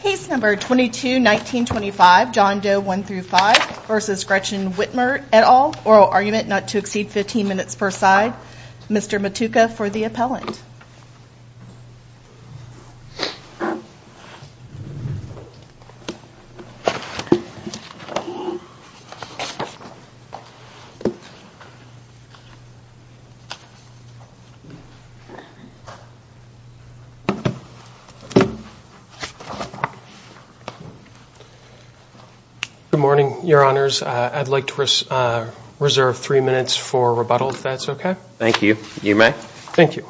Case No. 22-1925 John Doe 1-5 v. Gretchen Whitmer et al. Oral Argument not to exceed 15 minutes per side. Mr. Matuca for the appellant. Good morning, Your Honors. I'd like to reserve three minutes for rebuttal, if that's okay. Thank you. You may. Thank you.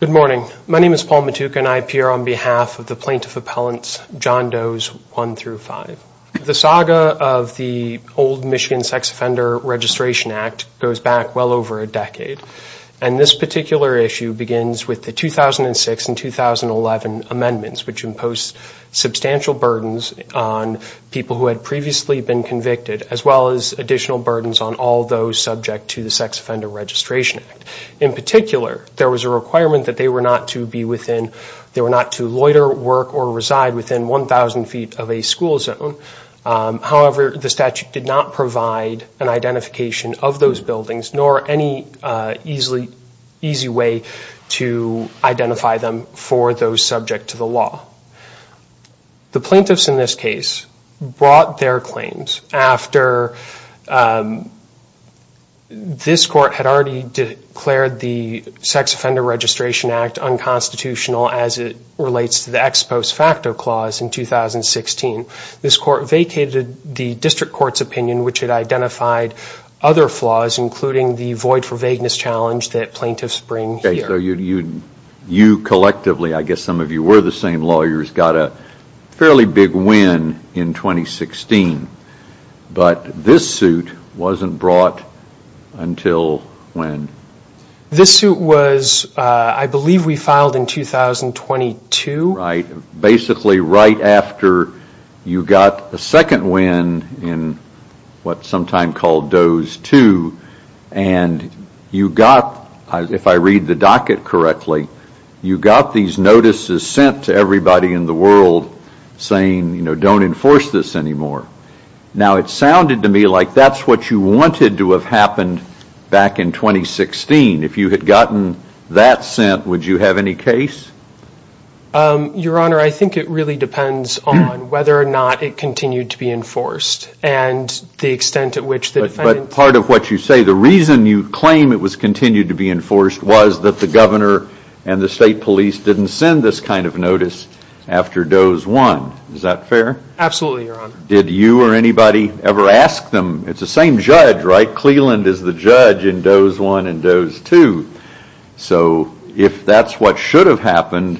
Good morning. My name is Paul Matuca and I appear on behalf of the Plaintiff Appellants, John Doe's 1-5. The saga of the old Michigan Sex Offender Registration Act goes back well over a decade. And this particular issue begins with the 2006 and 2011 amendments, which imposed substantial burdens on people who had previously been convicted, as well as additional burdens on all those subject to the Sex Offender Registration Act. In particular, there was a requirement that they were not to be within, they were not to loiter, work, or reside within 1,000 feet of a school zone. However, the statute did not provide an identification of those buildings, nor any easy way to identify them for those subject to the law. The plaintiffs in this case brought their claims after this court had already declared the Sex Offender Registration Act unconstitutional as it relates to the ex post facto clause in 2016. This court vacated the district court's opinion, which had identified other flaws, including the void for vagueness challenge that plaintiffs bring here. So you collectively, I guess some of you were the same lawyers, got a fairly big win in 2016. But this suit wasn't brought until when? This suit was, I believe we filed in 2022. Right, basically right after you got a second win in what's sometimes called Dose 2, and you got, if I read the docket correctly, you got these notices sent to everybody in the world saying, you know, don't enforce this anymore. Now it sounded to me like that's what you wanted to have happened back in 2016. If you had gotten that sent, would you have any case? Your Honor, I think it really depends on whether or not it continued to be enforced, and the extent at which the defendant... But part of what you say, the reason you claim it was continued to be enforced was that the governor and the state police didn't send this kind of notice after Dose 1. Absolutely, Your Honor. Did you or anybody ever ask them? It's the same judge, right? Cleland is the judge in Dose 1 and Dose 2. So if that's what should have happened,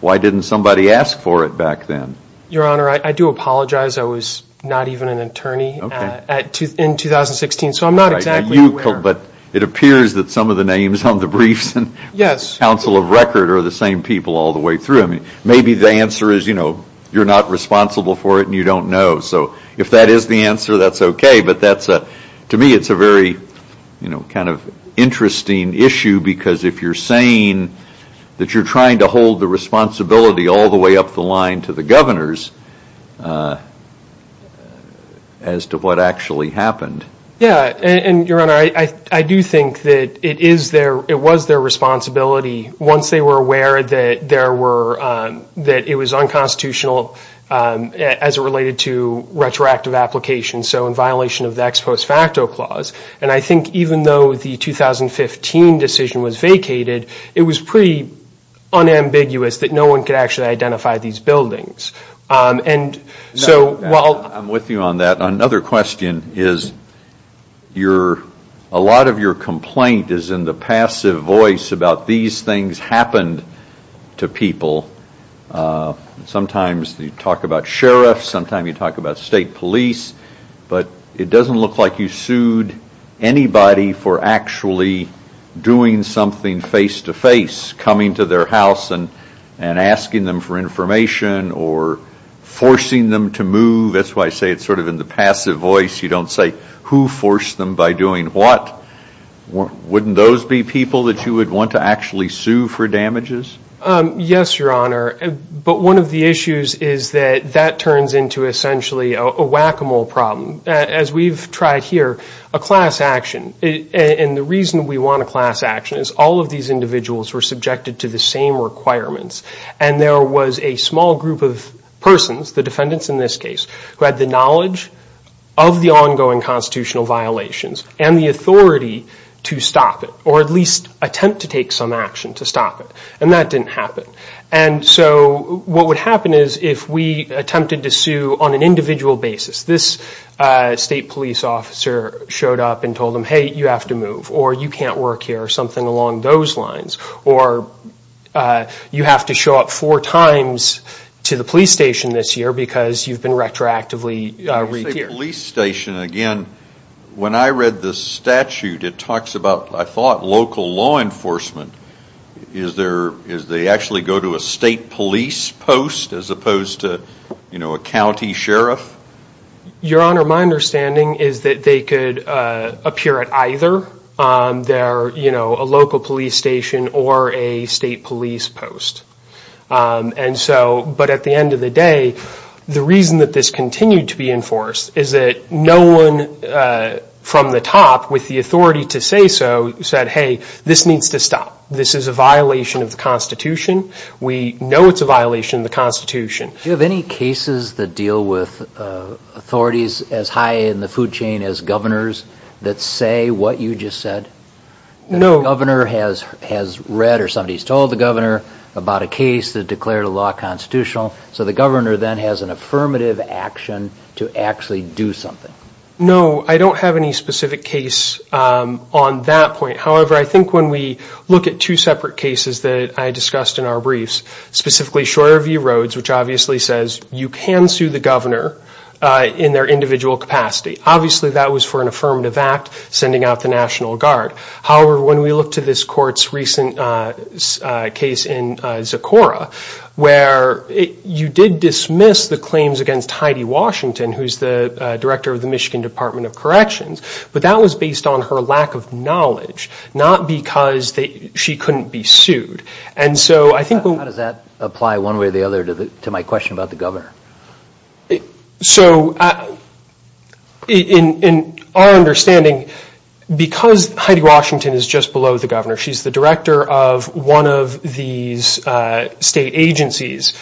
why didn't somebody ask for it back then? Your Honor, I do apologize. I was not even an attorney in 2016, so I'm not exactly aware. But it appears that some of the names on the briefs and counsel of record are the same people all the way through. Maybe the answer is you're not responsible for it and you don't know. So if that is the answer, that's okay. But to me, it's a very kind of interesting issue because if you're saying that you're trying to hold the responsibility all the way up the line to the governors as to what actually happened... Yeah, and Your Honor, I do think that it was their responsibility once they were aware that it was unconstitutional as it related to retroactive applications. So in violation of the Ex Post Facto Clause. And I think even though the 2015 decision was vacated, it was pretty unambiguous that no one could actually identify these buildings. I'm with you on that. Another question is a lot of your complaint is in the passive voice about these things happened to people. Sometimes you talk about sheriffs. Sometimes you talk about state police. But it doesn't look like you sued anybody for actually doing something face to face, coming to their house and asking them for information or forcing them to move. That's why I say it's sort of in the passive voice. You don't say who forced them by doing what. Wouldn't those be people that you would want to actually sue for damages? Yes, Your Honor. But one of the issues is that that turns into essentially a whack-a-mole problem. As we've tried here, a class action. And the reason we want a class action is all of these individuals were subjected to the same requirements. And there was a small group of persons, the defendants in this case, who had the knowledge of the ongoing constitutional violations and the authority to stop it or at least attempt to take some action to stop it. And that didn't happen. And so what would happen is if we attempted to sue on an individual basis, this state police officer showed up and told them, hey, you have to move. Or you can't work here or something along those lines. Or you have to show up four times to the police station this year because you've been retroactively re-tiered. The state police station, again, when I read the statute, it talks about, I thought, local law enforcement. Is they actually go to a state police post as opposed to a county sheriff? Your Honor, my understanding is that they could appear at either a local police station or a state police post. But at the end of the day, the reason that this continued to be enforced is that no one from the top with the authority to say so said, hey, this needs to stop. This is a violation of the Constitution. We know it's a violation of the Constitution. Do you have any cases that deal with authorities as high in the food chain as governors that say what you just said? No. No governor has read or somebody has told the governor about a case that declared a law constitutional. So the governor then has an affirmative action to actually do something. No, I don't have any specific case on that point. However, I think when we look at two separate cases that I discussed in our briefs, specifically Shorter View Roads, which obviously says you can sue the governor in their individual capacity. Obviously, that was for an affirmative act, sending out the National Guard. However, when we look to this court's recent case in Zecora, where you did dismiss the claims against Heidi Washington, who is the director of the Michigan Department of Corrections, but that was based on her lack of knowledge, not because she couldn't be sued. How does that apply one way or the other to my question about the governor? So in our understanding, because Heidi Washington is just below the governor, she's the director of one of these state agencies,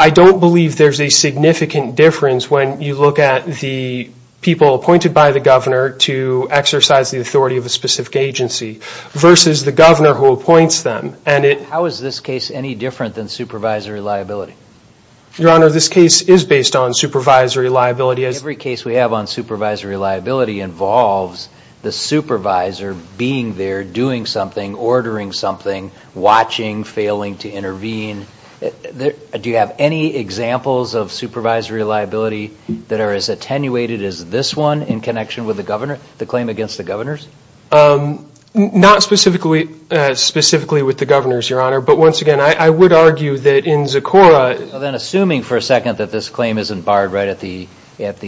I don't believe there's a significant difference when you look at the people appointed by the governor to exercise the authority of a specific agency versus the governor who appoints them. How is this case any different than supervisory liability? Your Honor, this case is based on supervisory liability. Every case we have on supervisory liability involves the supervisor being there, doing something, ordering something, watching, failing to intervene. Do you have any examples of supervisory liability that are as attenuated as this one in connection with the claim against the governors? Not specifically with the governors, Your Honor. But once again, I would argue that in Zecora... Then assuming for a second that this claim isn't barred right at the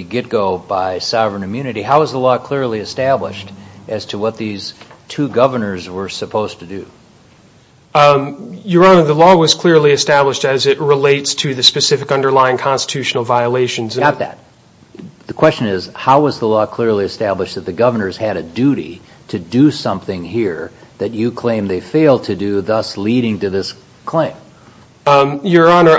get-go by sovereign immunity, how is the law clearly established as to what these two governors were supposed to do? Your Honor, the law was clearly established as it relates to the specific underlying constitutional violations. Got that. The question is, how was the law clearly established that the governors had a duty to do something here that you claim they failed to do, thus leading to this claim? Your Honor,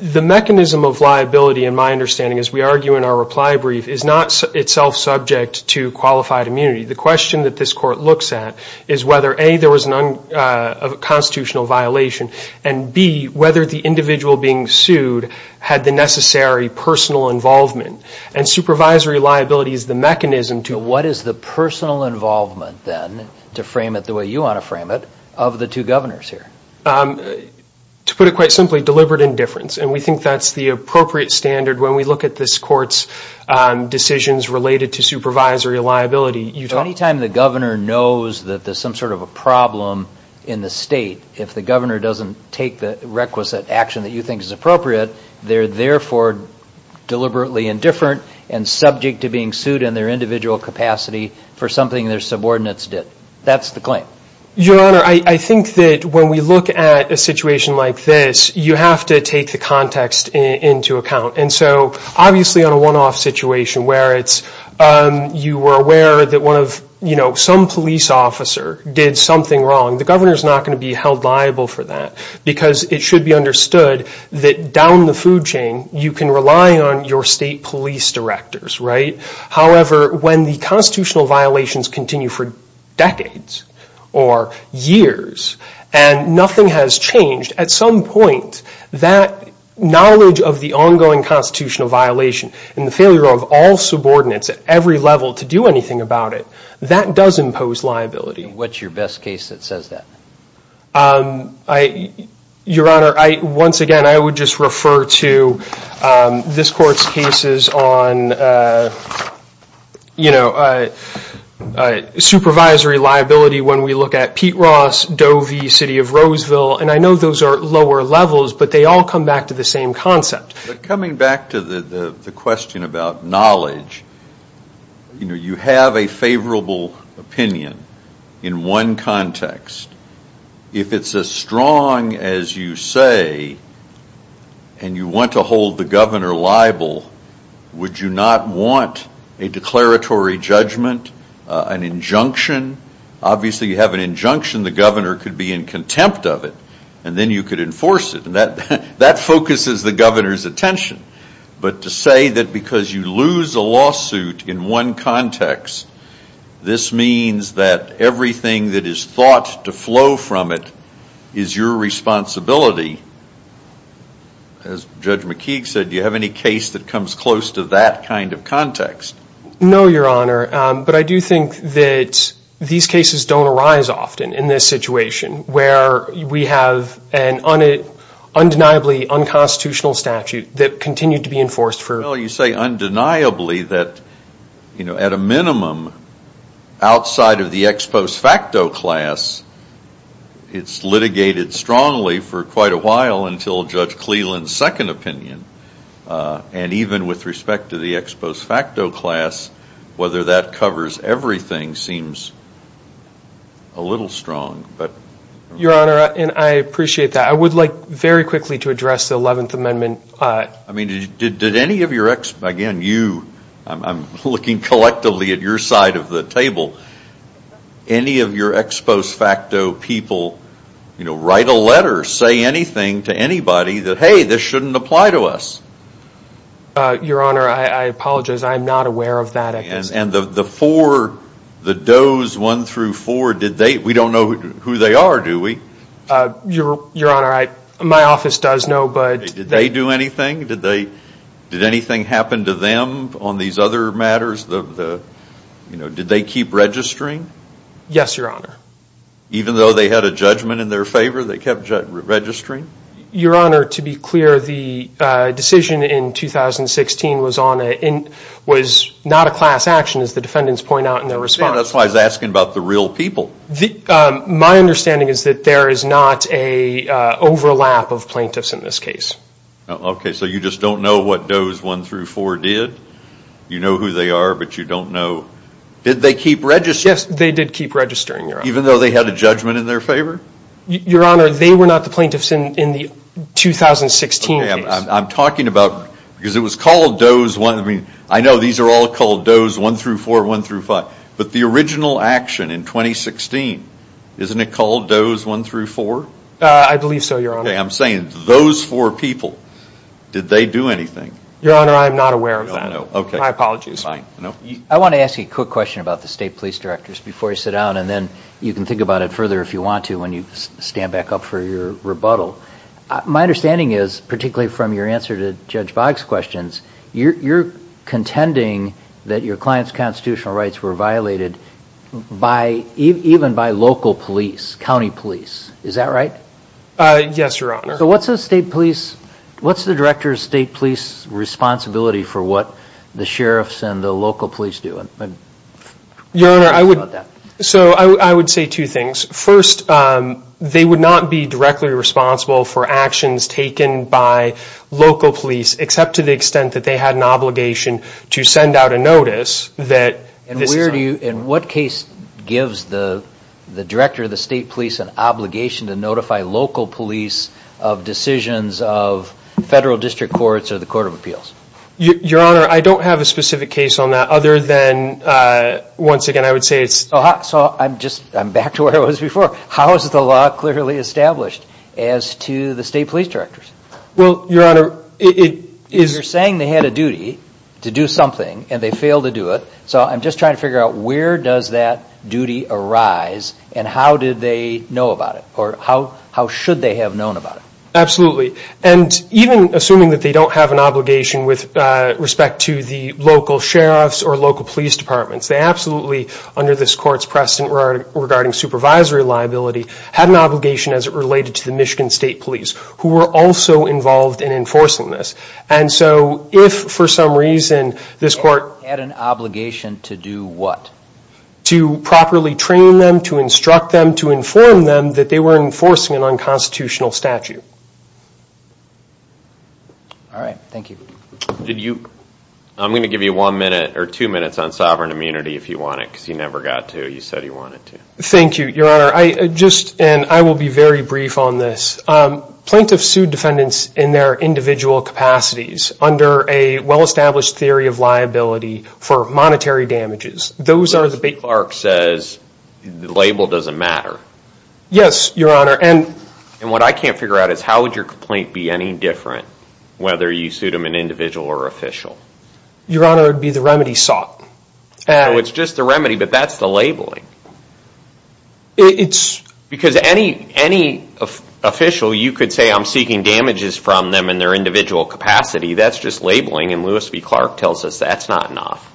the mechanism of liability, in my understanding, as we argue in our reply brief, is not itself subject to qualified immunity. The question that this court looks at is whether, A, there was a constitutional violation, and, B, whether the individual being sued had the necessary personal involvement. And supervisory liability is the mechanism to... To put it quite simply, deliberate indifference. And we think that's the appropriate standard when we look at this court's decisions related to supervisory liability. Any time the governor knows that there's some sort of a problem in the state, if the governor doesn't take the requisite action that you think is appropriate, they're therefore deliberately indifferent and subject to being sued in their individual capacity for something their subordinates did. That's the claim. Your Honor, I think that when we look at a situation like this, you have to take the context into account. And so, obviously, on a one-off situation where it's, you were aware that one of, you know, some police officer did something wrong, the governor's not going to be held liable for that. Because it should be understood that down the food chain, you can rely on your state police directors, right? However, when the constitutional violations continue for decades or years and nothing has changed, at some point, that knowledge of the ongoing constitutional violation and the failure of all subordinates at every level to do anything about it, that does impose liability. What's your best case that says that? Your Honor, once again, I would just refer to this Court's cases on, you know, supervisory liability when we look at Pete Ross, Doe v. City of Roseville. And I know those are lower levels, but they all come back to the same concept. But coming back to the question about knowledge, you know, you have a favorable opinion in one context. If it's as strong as you say, and you want to hold the governor liable, would you not want a declaratory judgment, an injunction? Obviously, you have an injunction. The governor could be in contempt of it, and then you could enforce it. And that focuses the governor's attention. But to say that because you lose a lawsuit in one context, this means that everything that is thought to flow from it is your responsibility, as Judge McKeague said, do you have any case that comes close to that kind of context? No, Your Honor. But I do think that these cases don't arise often in this situation, where we have an undeniably unconstitutional statute that continued to be enforced for... Well, you say undeniably that, you know, at a minimum, outside of the ex post facto class, it's litigated strongly for quite a while until Judge Cleland's second opinion. And even with respect to the ex post facto class, whether that covers everything seems a little strong. Your Honor, and I appreciate that. I would like very quickly to address the Eleventh Amendment. I mean, did any of your ex—again, you... I'm looking collectively at your side of the table. Any of your ex post facto people write a letter, say anything to anybody that, hey, this shouldn't apply to us? Your Honor, I apologize, I am not aware of that. And the four, the does one through four, did they, we don't know who they are, do we? Your Honor, my office does know, but... Did they do anything? Did they, did anything happen to them on these other matters? You know, did they keep registering? Yes, Your Honor. Even though they had a judgment in their favor, they kept registering? Your Honor, to be clear, the decision in 2016 was on a, was not a class action as the defendants point out in their response. That's why I was asking about the real people. My understanding is that there is not a overlap of plaintiffs in this case. Okay, so you just don't know what does one through four did? You know who they are, but you don't know. Did they keep registering? Yes, they did keep registering, Your Honor. Even though they had a judgment in their favor? Your Honor, they were not the plaintiffs in the 2016 case. Okay, I'm talking about, because it was called does one, I mean, I know these are all called does one through four, one through five, but the original action in 2016, isn't it called does one through four? I believe so, Your Honor. Okay, I'm saying those four people, did they do anything? Your Honor, I am not aware of that. Okay. My apologies. I want to ask you a quick question about the state police directors before you sit down, and then you can think about it further if you want to when you stand back up for your rebuttal. My understanding is, particularly from your answer to Judge Boggs' questions, you're contending that your client's constitutional rights were violated even by local police, county police. Is that right? Yes, Your Honor. So what's the director's state police responsibility for what the sheriffs and the local police do? Your Honor, I would say two things. First, they would not be directly responsible for actions taken by local police, except to the extent that they had an obligation to send out a notice that this is unlawful. And what case gives the director of the state police an obligation to notify local police of decisions of federal district courts or the court of appeals? Your Honor, I don't have a specific case on that other than, once again, I would say it's... So I'm back to where I was before. How is the law clearly established as to the state police directors? Well, Your Honor, it is... You're saying they had a duty to do something, and they failed to do it. So I'm just trying to figure out where does that duty arise, and how did they know about it, or how should they have known about it? Absolutely. And even assuming that they don't have an obligation with respect to the local sheriffs or local police departments, they absolutely, under this court's precedent regarding supervisory liability, had an obligation as it related to the Michigan State Police, who were also involved in enforcing this. And so if, for some reason, this court... Had an obligation to do what? To properly train them, to instruct them, to inform them that they were enforcing an unconstitutional statute. All right. Thank you. Did you... I'm going to give you one minute or two minutes on sovereign immunity if you want it, because you never got to. You said you wanted to. Thank you, Your Honor. I just... And I will be very brief on this. Plaintiffs sued defendants in their individual capacities under a well-established theory of liability for monetary damages. Those are the big... Clark says the label doesn't matter. Yes, Your Honor, and... And what I can't figure out is how would your complaint be any different, whether you sued them an individual or official? Your Honor, it would be the remedy sought. So it's just the remedy, but that's the labeling. It's... Because any official, you could say I'm seeking damages from them in their individual capacity. That's just labeling, and Lewis v. Clark tells us that's not enough.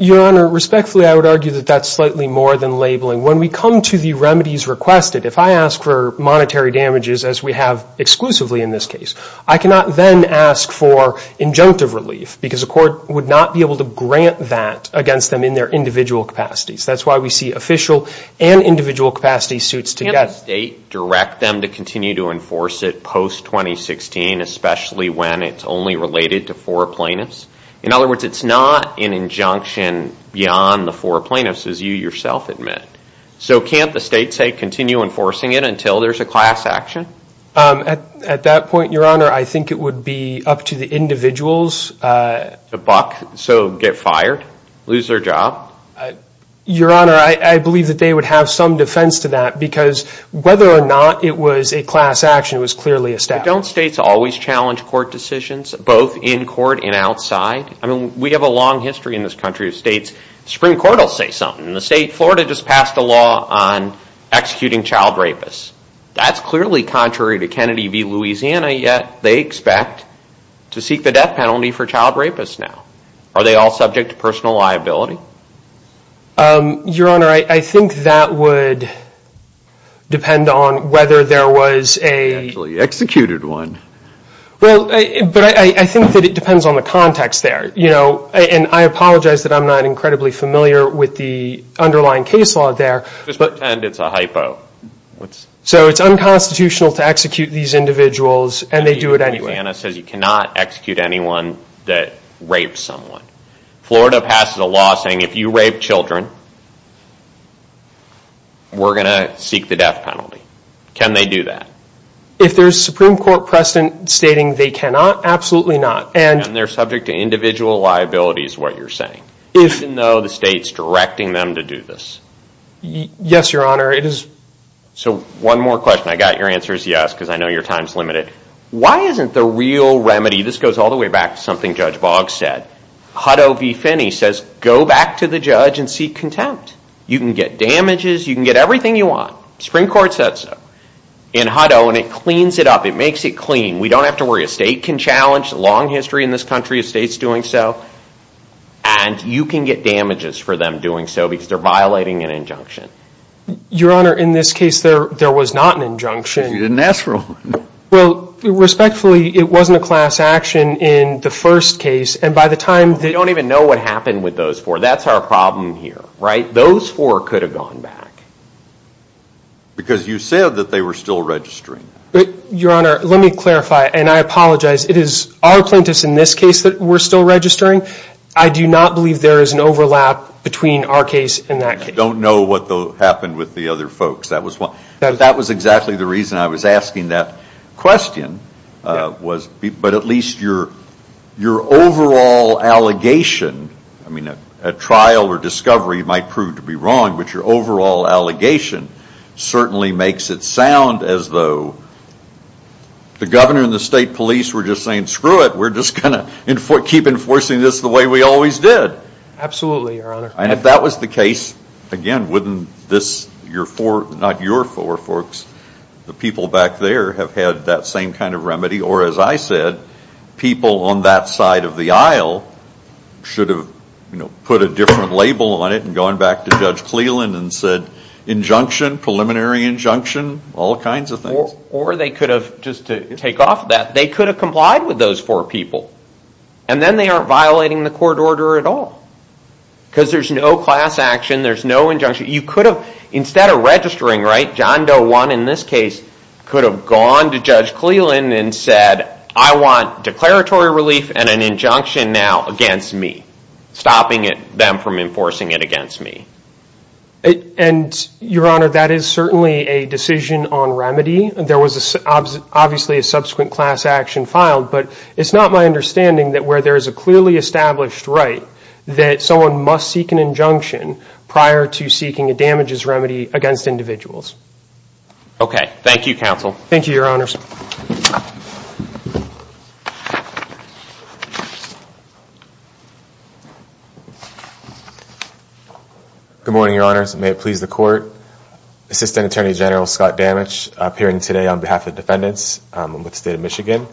Your Honor, respectfully, I would argue that that's slightly more than labeling. When we come to the remedies requested, if I ask for monetary damages, as we have exclusively in this case, I cannot then ask for injunctive relief, because a court would not be able to grant that against them in their individual capacities. That's why we see official and individual capacity suits together. Can't the state direct them to continue to enforce it post-2016, especially when it's only related to four plaintiffs? In other words, it's not an injunction beyond the four plaintiffs, as you yourself admit. So can't the state, say, continue enforcing it until there's a class action? At that point, Your Honor, I think it would be up to the individuals... To buck, so get fired, lose their job? Your Honor, I believe that they would have some defense to that, because whether or not it was a class action, it was clearly a step. Don't states always challenge court decisions, both in court and outside? I mean, we have a long history in this country of states. The Supreme Court will say something. In the state of Florida just passed a law on executing child rapists. That's clearly contrary to Kennedy v. Louisiana, yet they expect to seek the death penalty for child rapists now. Are they all subject to personal liability? Your Honor, I think that would depend on whether there was a... Actually executed one. Well, but I think that it depends on the context there. And I apologize that I'm not incredibly familiar with the underlying case law there. Just pretend it's a hypo. So it's unconstitutional to execute these individuals, and they do it anyway. Louisiana says you cannot execute anyone that rapes someone. Florida passes a law saying if you rape children, we're going to seek the death penalty. Can they do that? If there's Supreme Court precedent stating they cannot, absolutely not. And they're subject to individual liability is what you're saying, even though the state's directing them to do this? Yes, Your Honor, it is. So one more question. I got your answer is yes, because I know your time's limited. Why isn't the real remedy, this goes all the way back to something Judge Boggs said, Hutto v. Finney says go back to the judge and seek contempt. You can get damages. You can get everything you want. Supreme Court said so in Hutto, and it cleans it up. It makes it clean. We don't have to worry. A state can challenge. Long history in this country of states doing so. And you can get damages for them doing so because they're violating an injunction. Your Honor, in this case, there was not an injunction. You didn't ask for one. Well, respectfully, it wasn't a class action in the first case. And by the time they don't even know what happened with those four, that's our problem here. Right? Those four could have gone back. Because you said that they were still registering. Your Honor, let me clarify, and I apologize. It is our plaintiffs in this case that were still registering. I do not believe there is an overlap between our case and that case. Don't know what happened with the other folks. That was exactly the reason I was asking that question. But at least your overall allegation, I mean, a trial or discovery might prove to be wrong, but your overall allegation certainly makes it sound as though the governor and the state police were just saying, screw it, we're just going to keep enforcing this the way we always did. Absolutely, Your Honor. And if that was the case, again, wouldn't this, your four, not your four folks, the people back there, have had that same kind of remedy? Or as I said, people on that side of the aisle should have put a different label on it and gone back to Judge Cleland and said, injunction, preliminary injunction, all kinds of things. Or they could have, just to take off of that, they could have complied with those four people. And then they aren't violating the court order at all. Because there's no class action, there's no injunction. You could have, instead of registering, right, John Doe won in this case, could have gone to Judge Cleland and said, I want declaratory relief and an injunction now against me, stopping them from enforcing it against me. And, Your Honor, that is certainly a decision on remedy. There was obviously a subsequent class action filed. But it's not my understanding that where there is a clearly established right that someone must seek an injunction prior to seeking a damages remedy against individuals. Okay. Thank you, counsel. Thank you, Your Honors. Good morning, Your Honors. May it please the Court. Assistant Attorney General Scott Damage appearing today on behalf of defendants with the State of Michigan.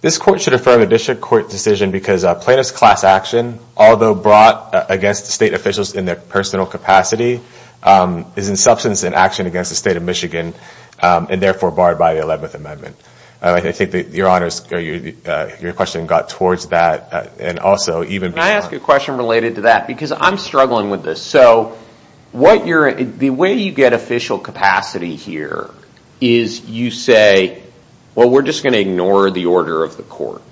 This court should refer to the district court decision because plaintiff's class action, although brought against the state officials in their personal capacity, is in substance and action against the State of Michigan and therefore barred by the 11th Amendment. I think, Your Honors, your question got towards that and also even before. Can I ask you a question related to that? Because I'm struggling with this. So the way you get official capacity here is you say, well, we're just going to ignore the order of the court.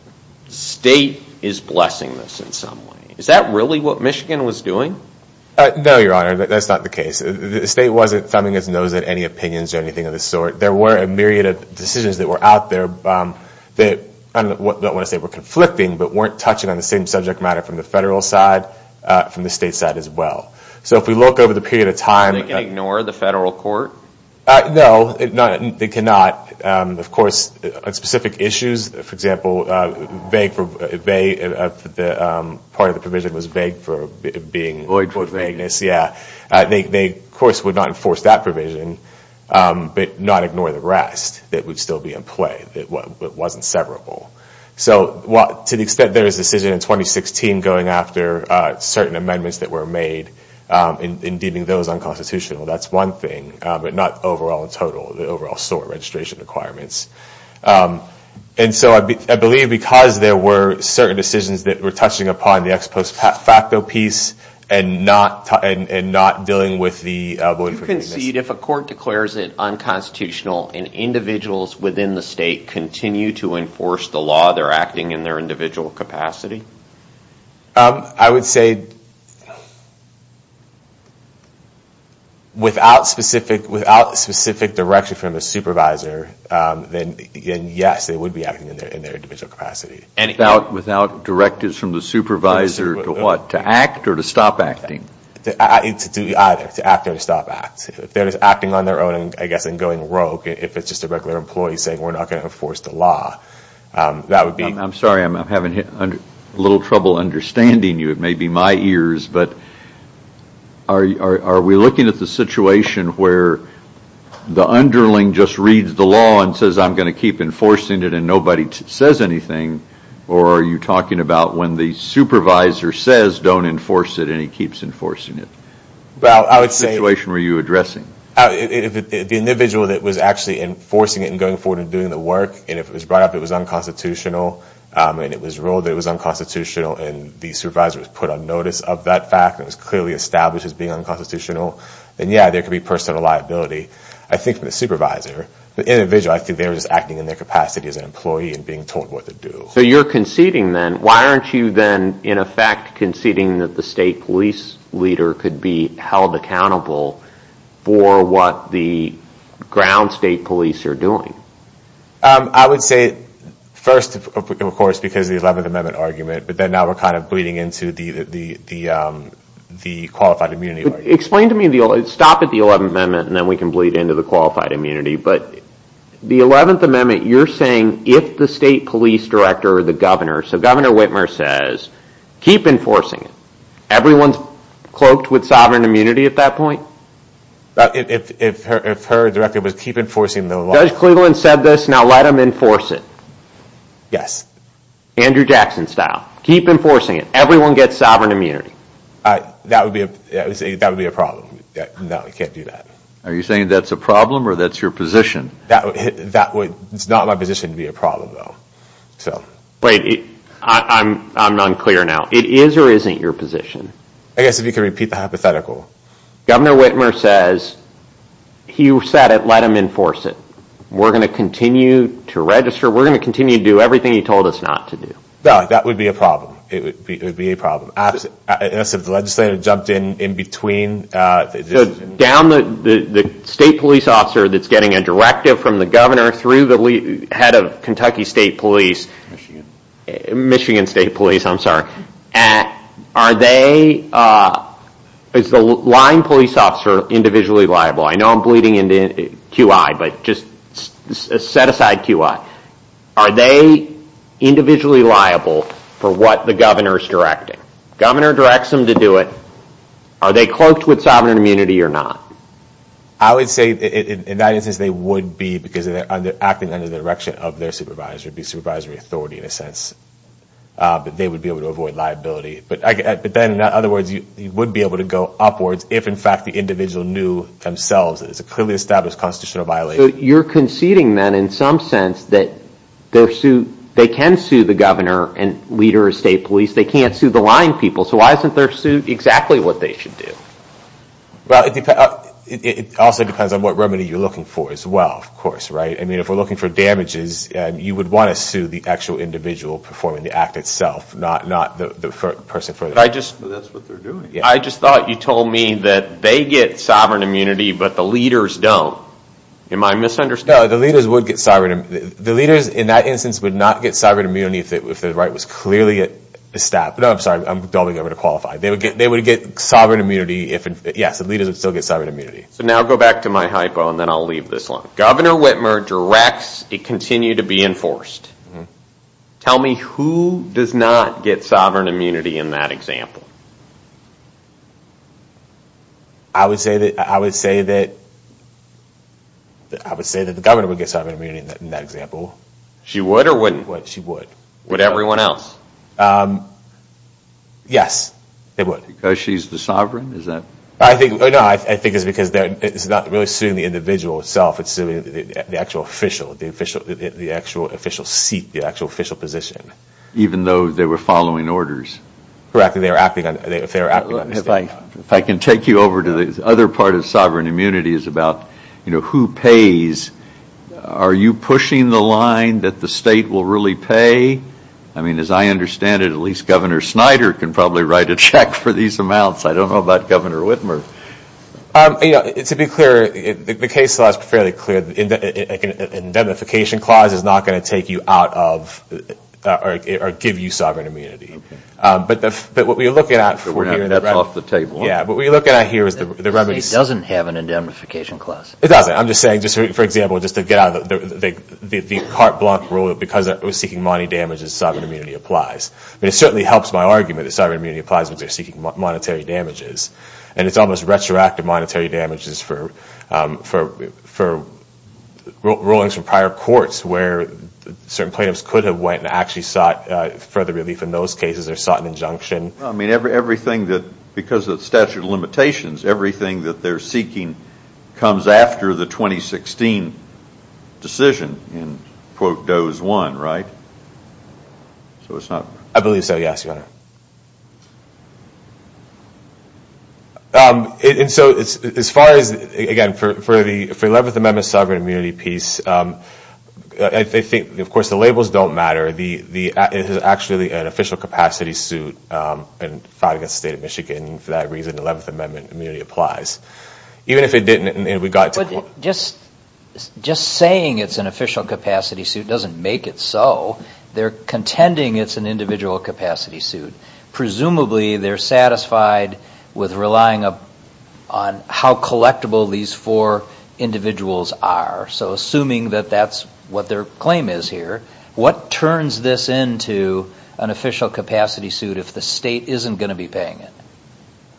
State is blessing this in some way. Is that really what Michigan was doing? No, Your Honor. That's not the case. The state wasn't thumbing its nose at any opinions or anything of the sort. There were a myriad of decisions that were out there that, I don't want to say were conflicting, but weren't touching on the same subject matter from the federal side, from the state side as well. So if we look over the period of time. They can ignore the federal court? No, they cannot. Of course, on specific issues, for example, part of the provision was vague for being. Void for vagueness. Void for vagueness, yeah. They, of course, would not enforce that provision, but not ignore the rest that would still be in play, that wasn't severable. So to the extent there is a decision in 2016 going after certain amendments that were made in deeming those unconstitutional, that's one thing, but not overall in total, the overall SOAR registration requirements. And so I believe because there were certain decisions that were touching upon the ex post facto piece and not dealing with the void for vagueness. You concede if a court declares it unconstitutional and individuals within the state continue to enforce the law, they're acting in their individual capacity? I would say without specific direction from the supervisor, then yes, they would be acting in their individual capacity. Without directives from the supervisor to what, to act or to stop acting? To do either, to act or to stop acting. If they're just acting on their own, I guess, and going rogue, if it's just a regular employee saying we're not going to enforce the law, that would be. I'm sorry, I'm having a little trouble understanding you. It may be my ears, but are we looking at the situation where the underling just reads the law and says I'm going to keep enforcing it and nobody says anything, or are you talking about when the supervisor says don't enforce it and he keeps enforcing it? What situation were you addressing? The individual that was actually enforcing it and going forward and doing the work, and if it was brought up that it was unconstitutional, and it was ruled that it was unconstitutional and the supervisor was put on notice of that fact and was clearly established as being unconstitutional, then yeah, there could be personal liability. I think from the supervisor, the individual, I think they were just acting in their capacity as an employee and being told what to do. So you're conceding then. Why aren't you then in effect conceding that the state police leader could be held accountable for what the ground state police are doing? I would say first, of course, because of the 11th Amendment argument, but then now we're kind of bleeding into the qualified immunity argument. Explain to me, stop at the 11th Amendment and then we can bleed into the qualified immunity, but the 11th Amendment, you're saying if the state police director or the governor, so Governor Whitmer says, keep enforcing it. Everyone's cloaked with sovereign immunity at that point? If her director was keep enforcing the law. Judge Cleveland said this, now let him enforce it. Yes. Andrew Jackson style. Keep enforcing it. Everyone gets sovereign immunity. That would be a problem. No, we can't do that. Are you saying that's a problem or that's your position? That would, it's not my position to be a problem though. Wait, I'm unclear now. It is or isn't your position? I guess if you could repeat the hypothetical. Governor Whitmer says, you said it, let him enforce it. We're going to continue to register. We're going to continue to do everything he told us not to do. No, that would be a problem. It would be a problem. Unless if the legislator jumped in in between. Down the state police officer that's getting a directive from the governor through the head of Kentucky State Police. Michigan State Police, I'm sorry. Are they, is the line police officer individually liable? I know I'm bleeding into QI, but just set aside QI. Are they individually liable for what the governor is directing? Governor directs them to do it. Are they cloaked with sovereign immunity or not? I would say in that instance they would be because they're acting under the direction of their supervisor. It would be supervisory authority in a sense. But they would be able to avoid liability. But then, in other words, you would be able to go upwards if, in fact, the individual knew themselves that it's a clearly established constitutional violation. So you're conceding then in some sense that they can sue the governor and leader of state police. They can't sue the line people. So why isn't their suit exactly what they should do? Well, it also depends on what remedy you're looking for as well, of course. I mean, if we're looking for damages, you would want to sue the actual individual performing the act itself, not the person. That's what they're doing. I just thought you told me that they get sovereign immunity, but the leaders don't. Am I misunderstanding? No, the leaders would get sovereign immunity. The leaders in that instance would not get sovereign immunity if the right was clearly established. No, I'm sorry. I'm delving over to qualify. They would get sovereign immunity if, yes, the leaders would still get sovereign immunity. So now go back to my hypo and then I'll leave this one. Governor Whitmer directs it continue to be enforced. Tell me who does not get sovereign immunity in that example? I would say that the governor would get sovereign immunity in that example. She would or wouldn't? She would. Would everyone else? Yes, they would. Because she's the sovereign? No, I think it's because it's not really suing the individual itself, it's suing the actual official, the actual official seat, the actual official position. Even though they were following orders? Correct. If I can take you over to the other part of sovereign immunity, it's about who pays. Are you pushing the line that the state will really pay? I mean, as I understand it, at least Governor Snyder can probably write a check for these amounts. I don't know about Governor Whitmer. To be clear, the case law is fairly clear. An indemnification clause is not going to take you out of or give you sovereign immunity. Okay. But what we're looking at here is the remedies. The state doesn't have an indemnification clause. It doesn't. I'm just saying, for example, just to get out of the carte blanche rule because it was seeking money damages, sovereign immunity applies. But it certainly helps my argument that sovereign immunity applies when they're seeking monetary damages. And it's almost retroactive monetary damages for rulings from prior courts where certain plaintiffs could have went and actually sought further relief in those cases or sought an injunction. I mean, everything that, because of the statute of limitations, everything that they're seeking comes after the 2016 decision and, quote, does one, right? So it's not. I believe so, yes, Your Honor. And so as far as, again, for the 11th Amendment sovereign immunity piece, I think, of course, the labels don't matter. It is actually an official capacity suit and filed against the State of Michigan. For that reason, the 11th Amendment immunity applies. Even if it didn't and we got to the point. But just saying it's an official capacity suit doesn't make it so. They're contending it's an individual capacity suit. Presumably they're satisfied with relying on how collectible these four individuals are. So assuming that that's what their claim is here, what turns this into an official capacity suit if the state isn't going to be paying it?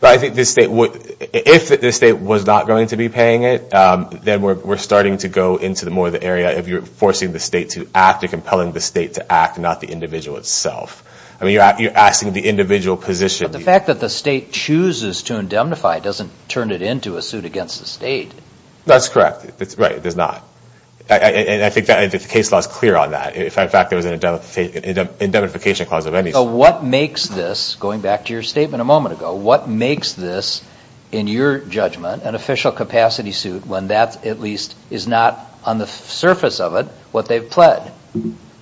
I think if the state was not going to be paying it, then we're starting to go into more of the area of you're forcing the state to act or compelling the state to act, not the individual itself. I mean, you're asking the individual position. But the fact that the state chooses to indemnify doesn't turn it into a suit against the state. That's correct. Right, it does not. And I think the case law is clear on that. In fact, there was an indemnification clause of any sort. So what makes this, going back to your statement a moment ago, what makes this, in your judgment, an official capacity suit when that at least is not on the surface of it what they've pled?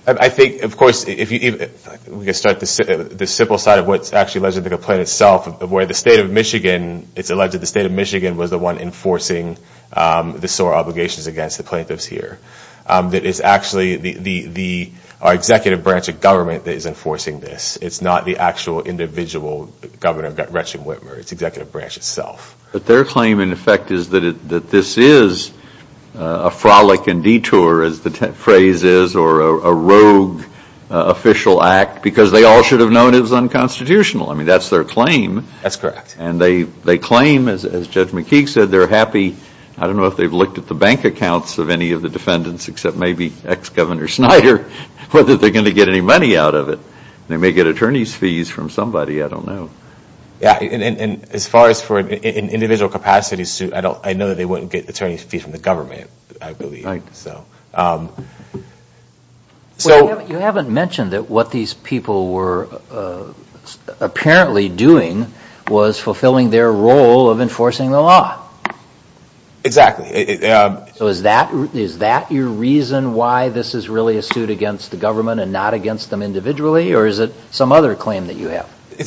I think, of course, we can start at the simple side of what's actually alleged to be a complaint itself of where the state of Michigan, it's alleged that the state of Michigan was the one enforcing the SOAR obligations against the plaintiffs here, that it's actually the executive branch of government that is enforcing this. It's not the actual individual governor, Gretchen Whitmer. It's the executive branch itself. But their claim, in effect, is that this is a frolic and detour, as the phrase is, or a rogue official act because they all should have known it was unconstitutional. I mean, that's their claim. That's correct. And they claim, as Judge McKeague said, they're happy. I don't know if they've looked at the bank accounts of any of the defendants except maybe ex-Governor Snyder whether they're going to get any money out of it. They may get attorney's fees from somebody. I don't know. Yeah, and as far as for an individual capacity suit, I know that they wouldn't get attorney's fees from the government, I believe. Right. You haven't mentioned that what these people were apparently doing was fulfilling their role of enforcing the law. Exactly. So is that your reason why this is really a suit against the government and not against them individually, or is it some other claim that you have? I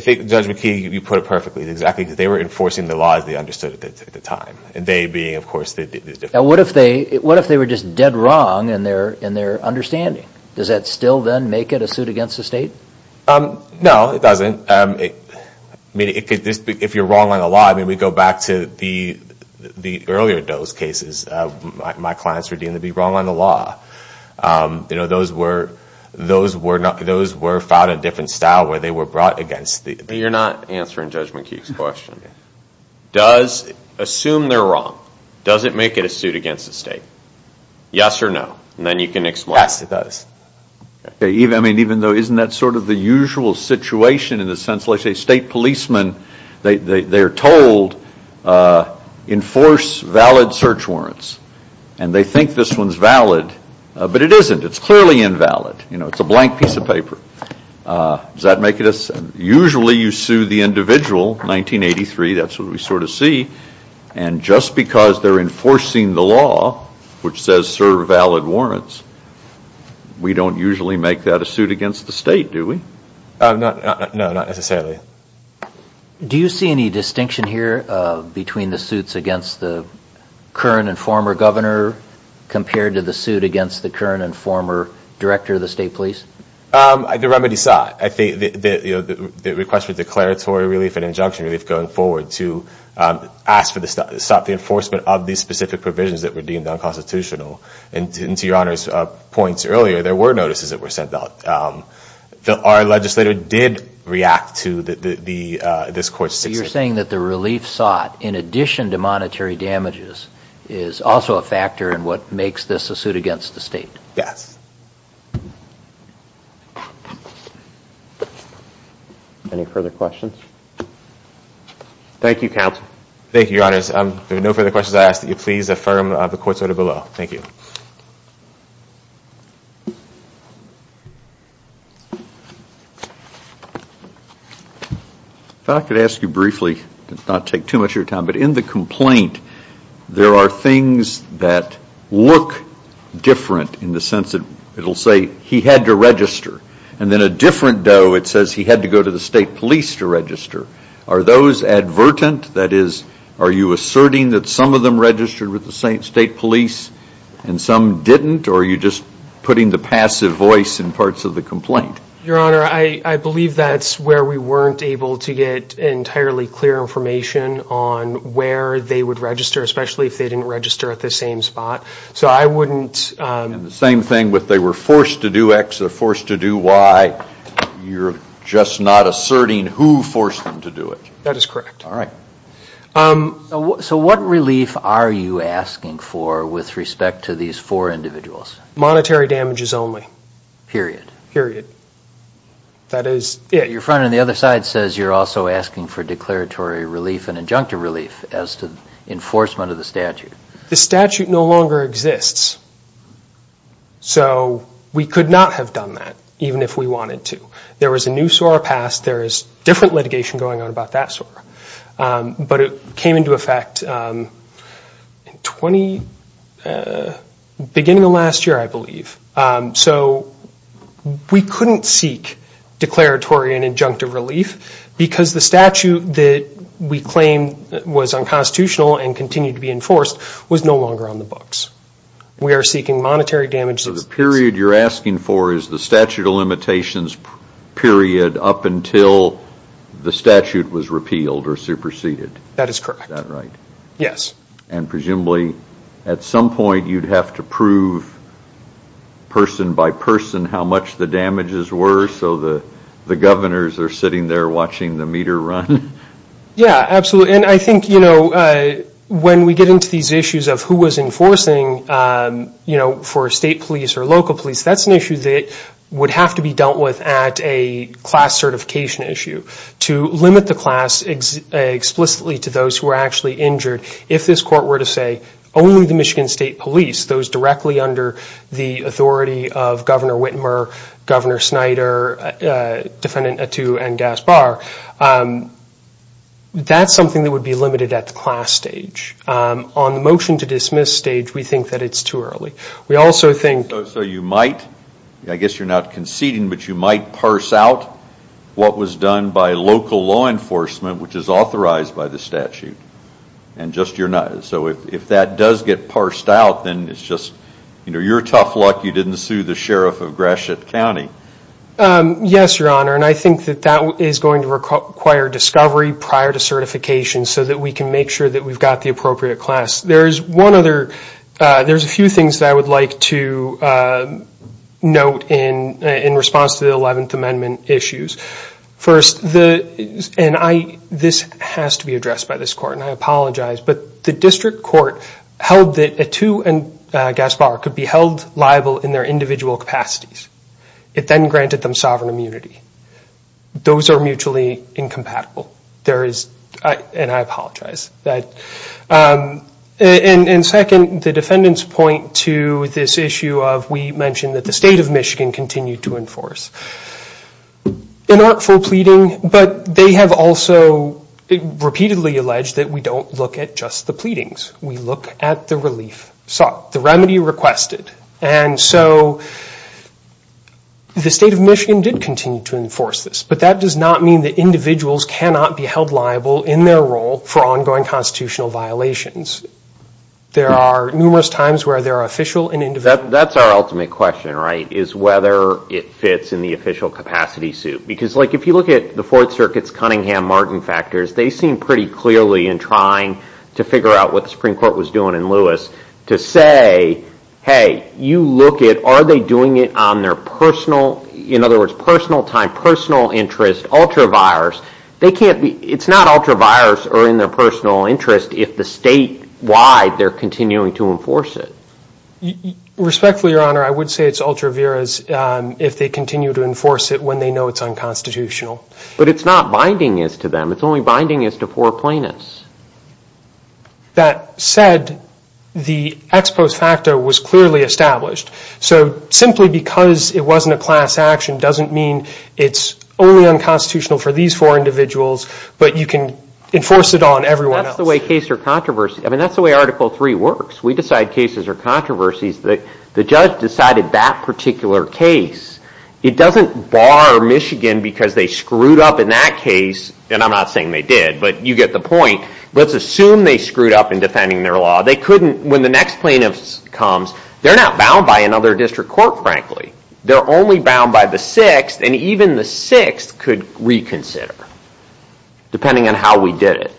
think, Judge McKeague, you put it perfectly exactly because they were enforcing the laws they understood at the time, and they being, of course, the defendants. Now, what if they were just dead wrong in their understanding? Does that still then make it a suit against the state? No, it doesn't. If you're wrong on the law, I mean, we go back to the earlier Doe's cases. My clients were deemed to be wrong on the law. Those were filed in a different style where they were brought against the… You're not answering Judge McKeague's question. Assume they're wrong. Does it make it a suit against the state? Yes or no, and then you can explain. Yes, it does. Even though isn't that sort of the usual situation in the sense, let's say state policemen, they're told enforce valid search warrants, and they think this one's valid, but it isn't. It's clearly invalid. It's a blank piece of paper. Does that make it a suit? Usually you sue the individual, 1983, that's what we sort of see, and just because they're enforcing the law, which says serve valid warrants, we don't usually make that a suit against the state, do we? No, not necessarily. Do you see any distinction here between the suits against the current and former governor compared to the suit against the current and former director of the state police? The remedy sought. The request for declaratory relief and injunction relief going forward to stop the enforcement of these specific provisions that were deemed unconstitutional. And to Your Honor's points earlier, there were notices that were sent out. Our legislator did react to this court's decision. So you're saying that the relief sought, in addition to monetary damages, is also a factor in what makes this a suit against the state? Yes. Any further questions? Thank you, counsel. Thank you, Your Honors. If there are no further questions, I ask that you please affirm the court's order below. Thank you. If I could ask you briefly, not to take too much of your time, but in the complaint there are things that look different in the sense that it will say he had to register. And then a different doe, it says he had to go to the state police to register. Are those advertent? That is, are you asserting that some of them registered with the state police and some didn't? Or are you just putting the passive voice in parts of the complaint? Your Honor, I believe that's where we weren't able to get entirely clear information on where they would register, especially if they didn't register at the same spot. So I wouldn't. And the same thing with they were forced to do X, they're forced to do Y. You're just not asserting who forced them to do it. That is correct. All right. So what relief are you asking for with respect to these four individuals? Monetary damages only. Period. Period. That is, yeah. Your friend on the other side says you're also asking for declaratory relief and injunctive relief as to enforcement of the statute. The statute no longer exists. So we could not have done that even if we wanted to. There was a new SOAR passed. There is different litigation going on about that SOAR. But it came into effect beginning of last year, I believe. So we couldn't seek declaratory and injunctive relief because the statute that we claim was unconstitutional and continued to be enforced was no longer on the books. We are seeking monetary damages. So the period you're asking for is the statute of limitations period up until the statute was repealed or superseded. That is correct. Is that right? Yes. And presumably at some point you'd have to prove person by person how much the damages were so the governors are sitting there watching the meter run? Yeah, absolutely. And I think when we get into these issues of who was enforcing for state police or local police, that's an issue that would have to be dealt with at a class certification issue to limit the class explicitly to those who were actually injured if this court were to say only the Michigan State Police, those directly under the authority of Governor Whitmer, Governor Snyder, Defendant Attu, and Gaspar, that's something that would be limited at the class stage. On the motion to dismiss stage, we think that it's too early. So you might, I guess you're not conceding, but you might parse out what was done by local law enforcement, which is authorized by the statute. So if that does get parsed out, then it's just, you know, you're tough luck you didn't sue the Sheriff of Gratiot County. Yes, Your Honor, and I think that that is going to require discovery prior to certification so that we can make sure that we've got the appropriate class. There's a few things that I would like to note in response to the Eleventh Amendment issues. First, and this has to be addressed by this court, and I apologize, but the district court held that Attu and Gaspar could be held liable in their individual capacities. It then granted them sovereign immunity. Those are mutually incompatible, and I apologize. And second, the defendants point to this issue of, we mentioned that the State of Michigan continued to enforce. An artful pleading, but they have also repeatedly alleged that we don't look at just the pleadings. We look at the relief sought, the remedy requested. And so the State of Michigan did continue to enforce this, but that does not mean that individuals cannot be held liable in their role for ongoing constitutional violations. There are numerous times where there are official and individual. That's our ultimate question, right, is whether it fits in the official capacity suit. Because if you look at the Fourth Circuit's Cunningham-Martin factors, they seem pretty clearly in trying to figure out what the Supreme Court was doing in Lewis to say, hey, you look at, are they doing it on their personal, in other words, personal time, personal interest, ultra-virus. It's not ultra-virus or in their personal interest if the statewide they're continuing to enforce it. Respectfully, Your Honor, I would say it's ultra-virus if they continue to enforce it when they know it's unconstitutional. But it's not binding as to them. It's only binding as to four plaintiffs. That said, the ex post facto was clearly established. So simply because it wasn't a class action doesn't mean it's only unconstitutional for these four individuals, but you can enforce it on everyone else. That's the way case or controversy, I mean, that's the way Article III works. We decide cases are controversies. The judge decided that particular case. It doesn't bar Michigan because they screwed up in that case, and I'm not saying they did, but you get the point. Let's assume they screwed up in defending their law. They couldn't, when the next plaintiff comes, they're not bound by another district court, frankly. They're only bound by the sixth, and even the sixth could reconsider depending on how we did it.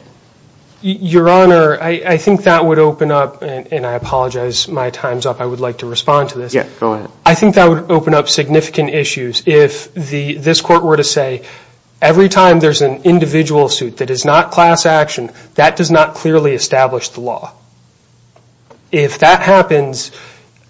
Your Honor, I think that would open up, and I apologize, my time's up. I would like to respond to this. Yeah, go ahead. I think that would open up significant issues if this court were to say every time there's an individual suit that is not class action, that does not clearly establish the law. If that happens,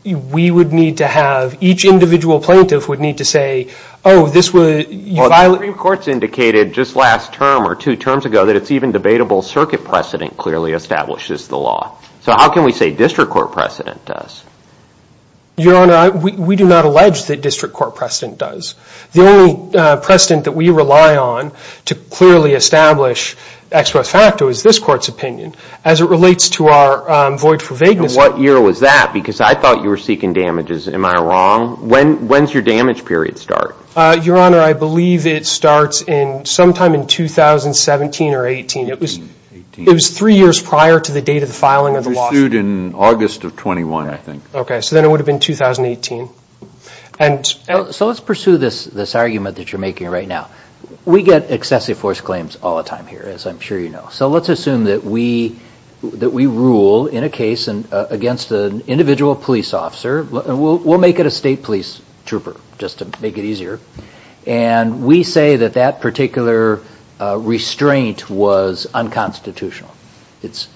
we would need to have, each individual plaintiff would need to say, oh, this was, you violated. Well, the Supreme Court's indicated just last term or two terms ago that it's even debatable circuit precedent clearly establishes the law. So how can we say district court precedent does? Your Honor, we do not allege that district court precedent does. The only precedent that we rely on to clearly establish ex pro facto is this court's opinion as it relates to our void for vagueness. What year was that? Because I thought you were seeking damages. Am I wrong? When does your damage period start? Your Honor, I believe it starts sometime in 2017 or 18. It was three years prior to the date of the filing of the lawsuit. It was sued in August of 21, I think. Okay. So then it would have been 2018. So let's pursue this argument that you're making right now. We get excessive force claims all the time here, as I'm sure you know. So let's assume that we rule in a case against an individual police officer. We'll make it a state police trooper just to make it easier. And we say that that particular restraint was unconstitutional. It's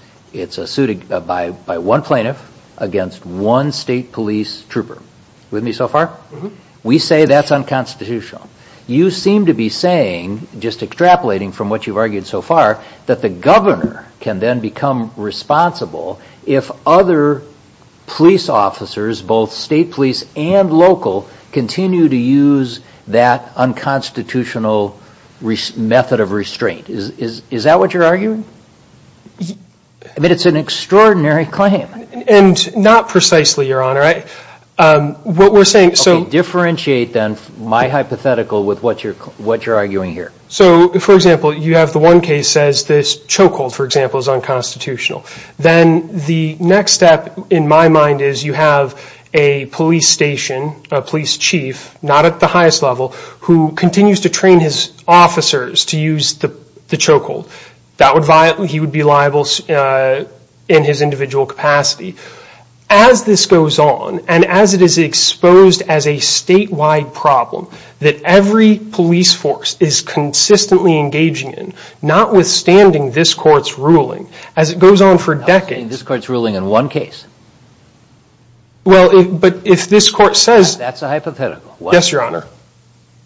a suit by one plaintiff against one state police trooper. With me so far? We say that's unconstitutional. You seem to be saying, just extrapolating from what you've argued so far, that the governor can then become responsible if other police officers, both state police and local, continue to use that unconstitutional method of restraint. Is that what you're arguing? I mean, it's an extraordinary claim. And not precisely, Your Honor. What we're saying, so... Okay. Differentiate then my hypothetical with what you're arguing here. So, for example, you have the one case says this chokehold, for example, is unconstitutional. Then the next step in my mind is you have a police station, a police chief, not at the highest level, who continues to train his officers to use the chokehold. He would be liable in his individual capacity. As this goes on, and as it is exposed as a statewide problem that every police force is consistently engaging in, notwithstanding this court's ruling, as it goes on for decades... This court's ruling in one case. Well, but if this court says... That's a hypothetical. Yes, Your Honor.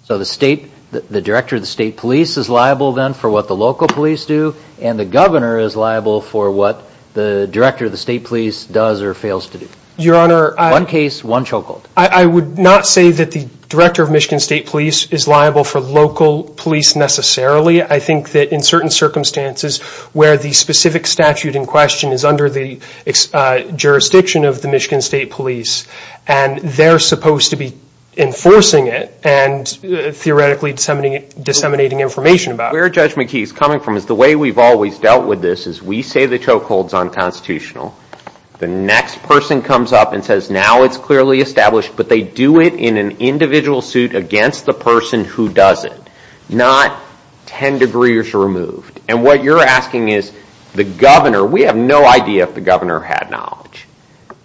So the state, the director of the state police is liable then for what the local police do, and the governor is liable for what the director of the state police does or fails to do. Your Honor, I... One case, one chokehold. I would not say that the director of Michigan State Police is liable for local police necessarily. I think that in certain circumstances where the specific statute in question is under the jurisdiction of the Michigan State Police and they're supposed to be enforcing it and theoretically disseminating information about it. Where Judge McKee is coming from is the way we've always dealt with this is we say the chokehold's unconstitutional. The next person comes up and says, now it's clearly established, but they do it in an individual suit against the person who does it. Not 10 degrees removed. And what you're asking is the governor, we have no idea if the governor had knowledge.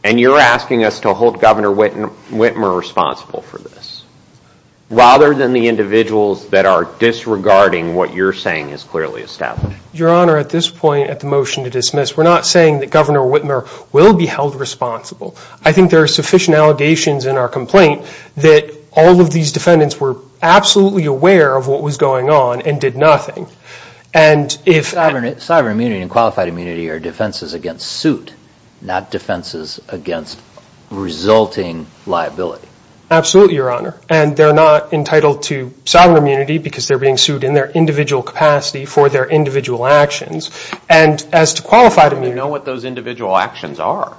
And you're asking us to hold Governor Whitmer responsible for this rather than the individuals that are disregarding what you're saying is clearly established. Your Honor, at this point at the motion to dismiss, we're not saying that Governor Whitmer will be held responsible. I think there are sufficient allegations in our complaint that all of these defendants were absolutely aware of what was going on and did nothing. And if... Sovereign immunity and qualified immunity are defenses against suit, not defenses against resulting liability. Absolutely, Your Honor. And they're not entitled to sovereign immunity because they're being sued in their individual capacity for their individual actions. And as to qualified immunity... We know what those individual actions are.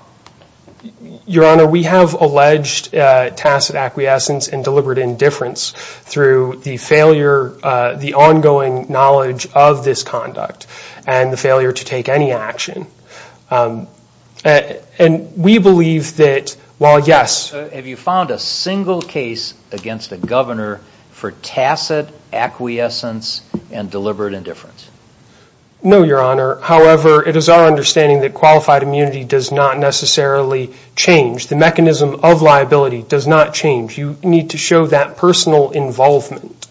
Your Honor, we have alleged tacit acquiescence and deliberate indifference through the failure, the ongoing knowledge of this conduct and the failure to take any action. And we believe that while, yes... Have you found a single case against the governor for tacit acquiescence and deliberate indifference? No, Your Honor. However, it is our understanding that qualified immunity does not necessarily change. The mechanism of liability does not change. You need to show that personal involvement.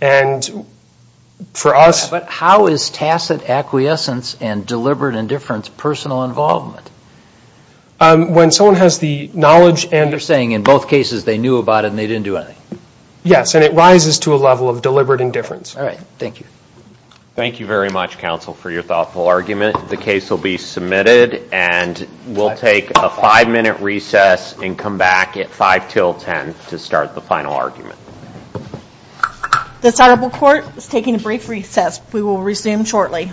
And for us... But how is tacit acquiescence and deliberate indifference personal involvement? When someone has the knowledge and... You're saying in both cases they knew about it and they didn't do anything. Yes, and it rises to a level of deliberate indifference. All right, thank you. Thank you very much, counsel, for your thoughtful argument. The case will be submitted. And we'll take a five-minute recess and come back at 5 till 10 to start the final argument. The Senate will court is taking a brief recess. We will resume shortly.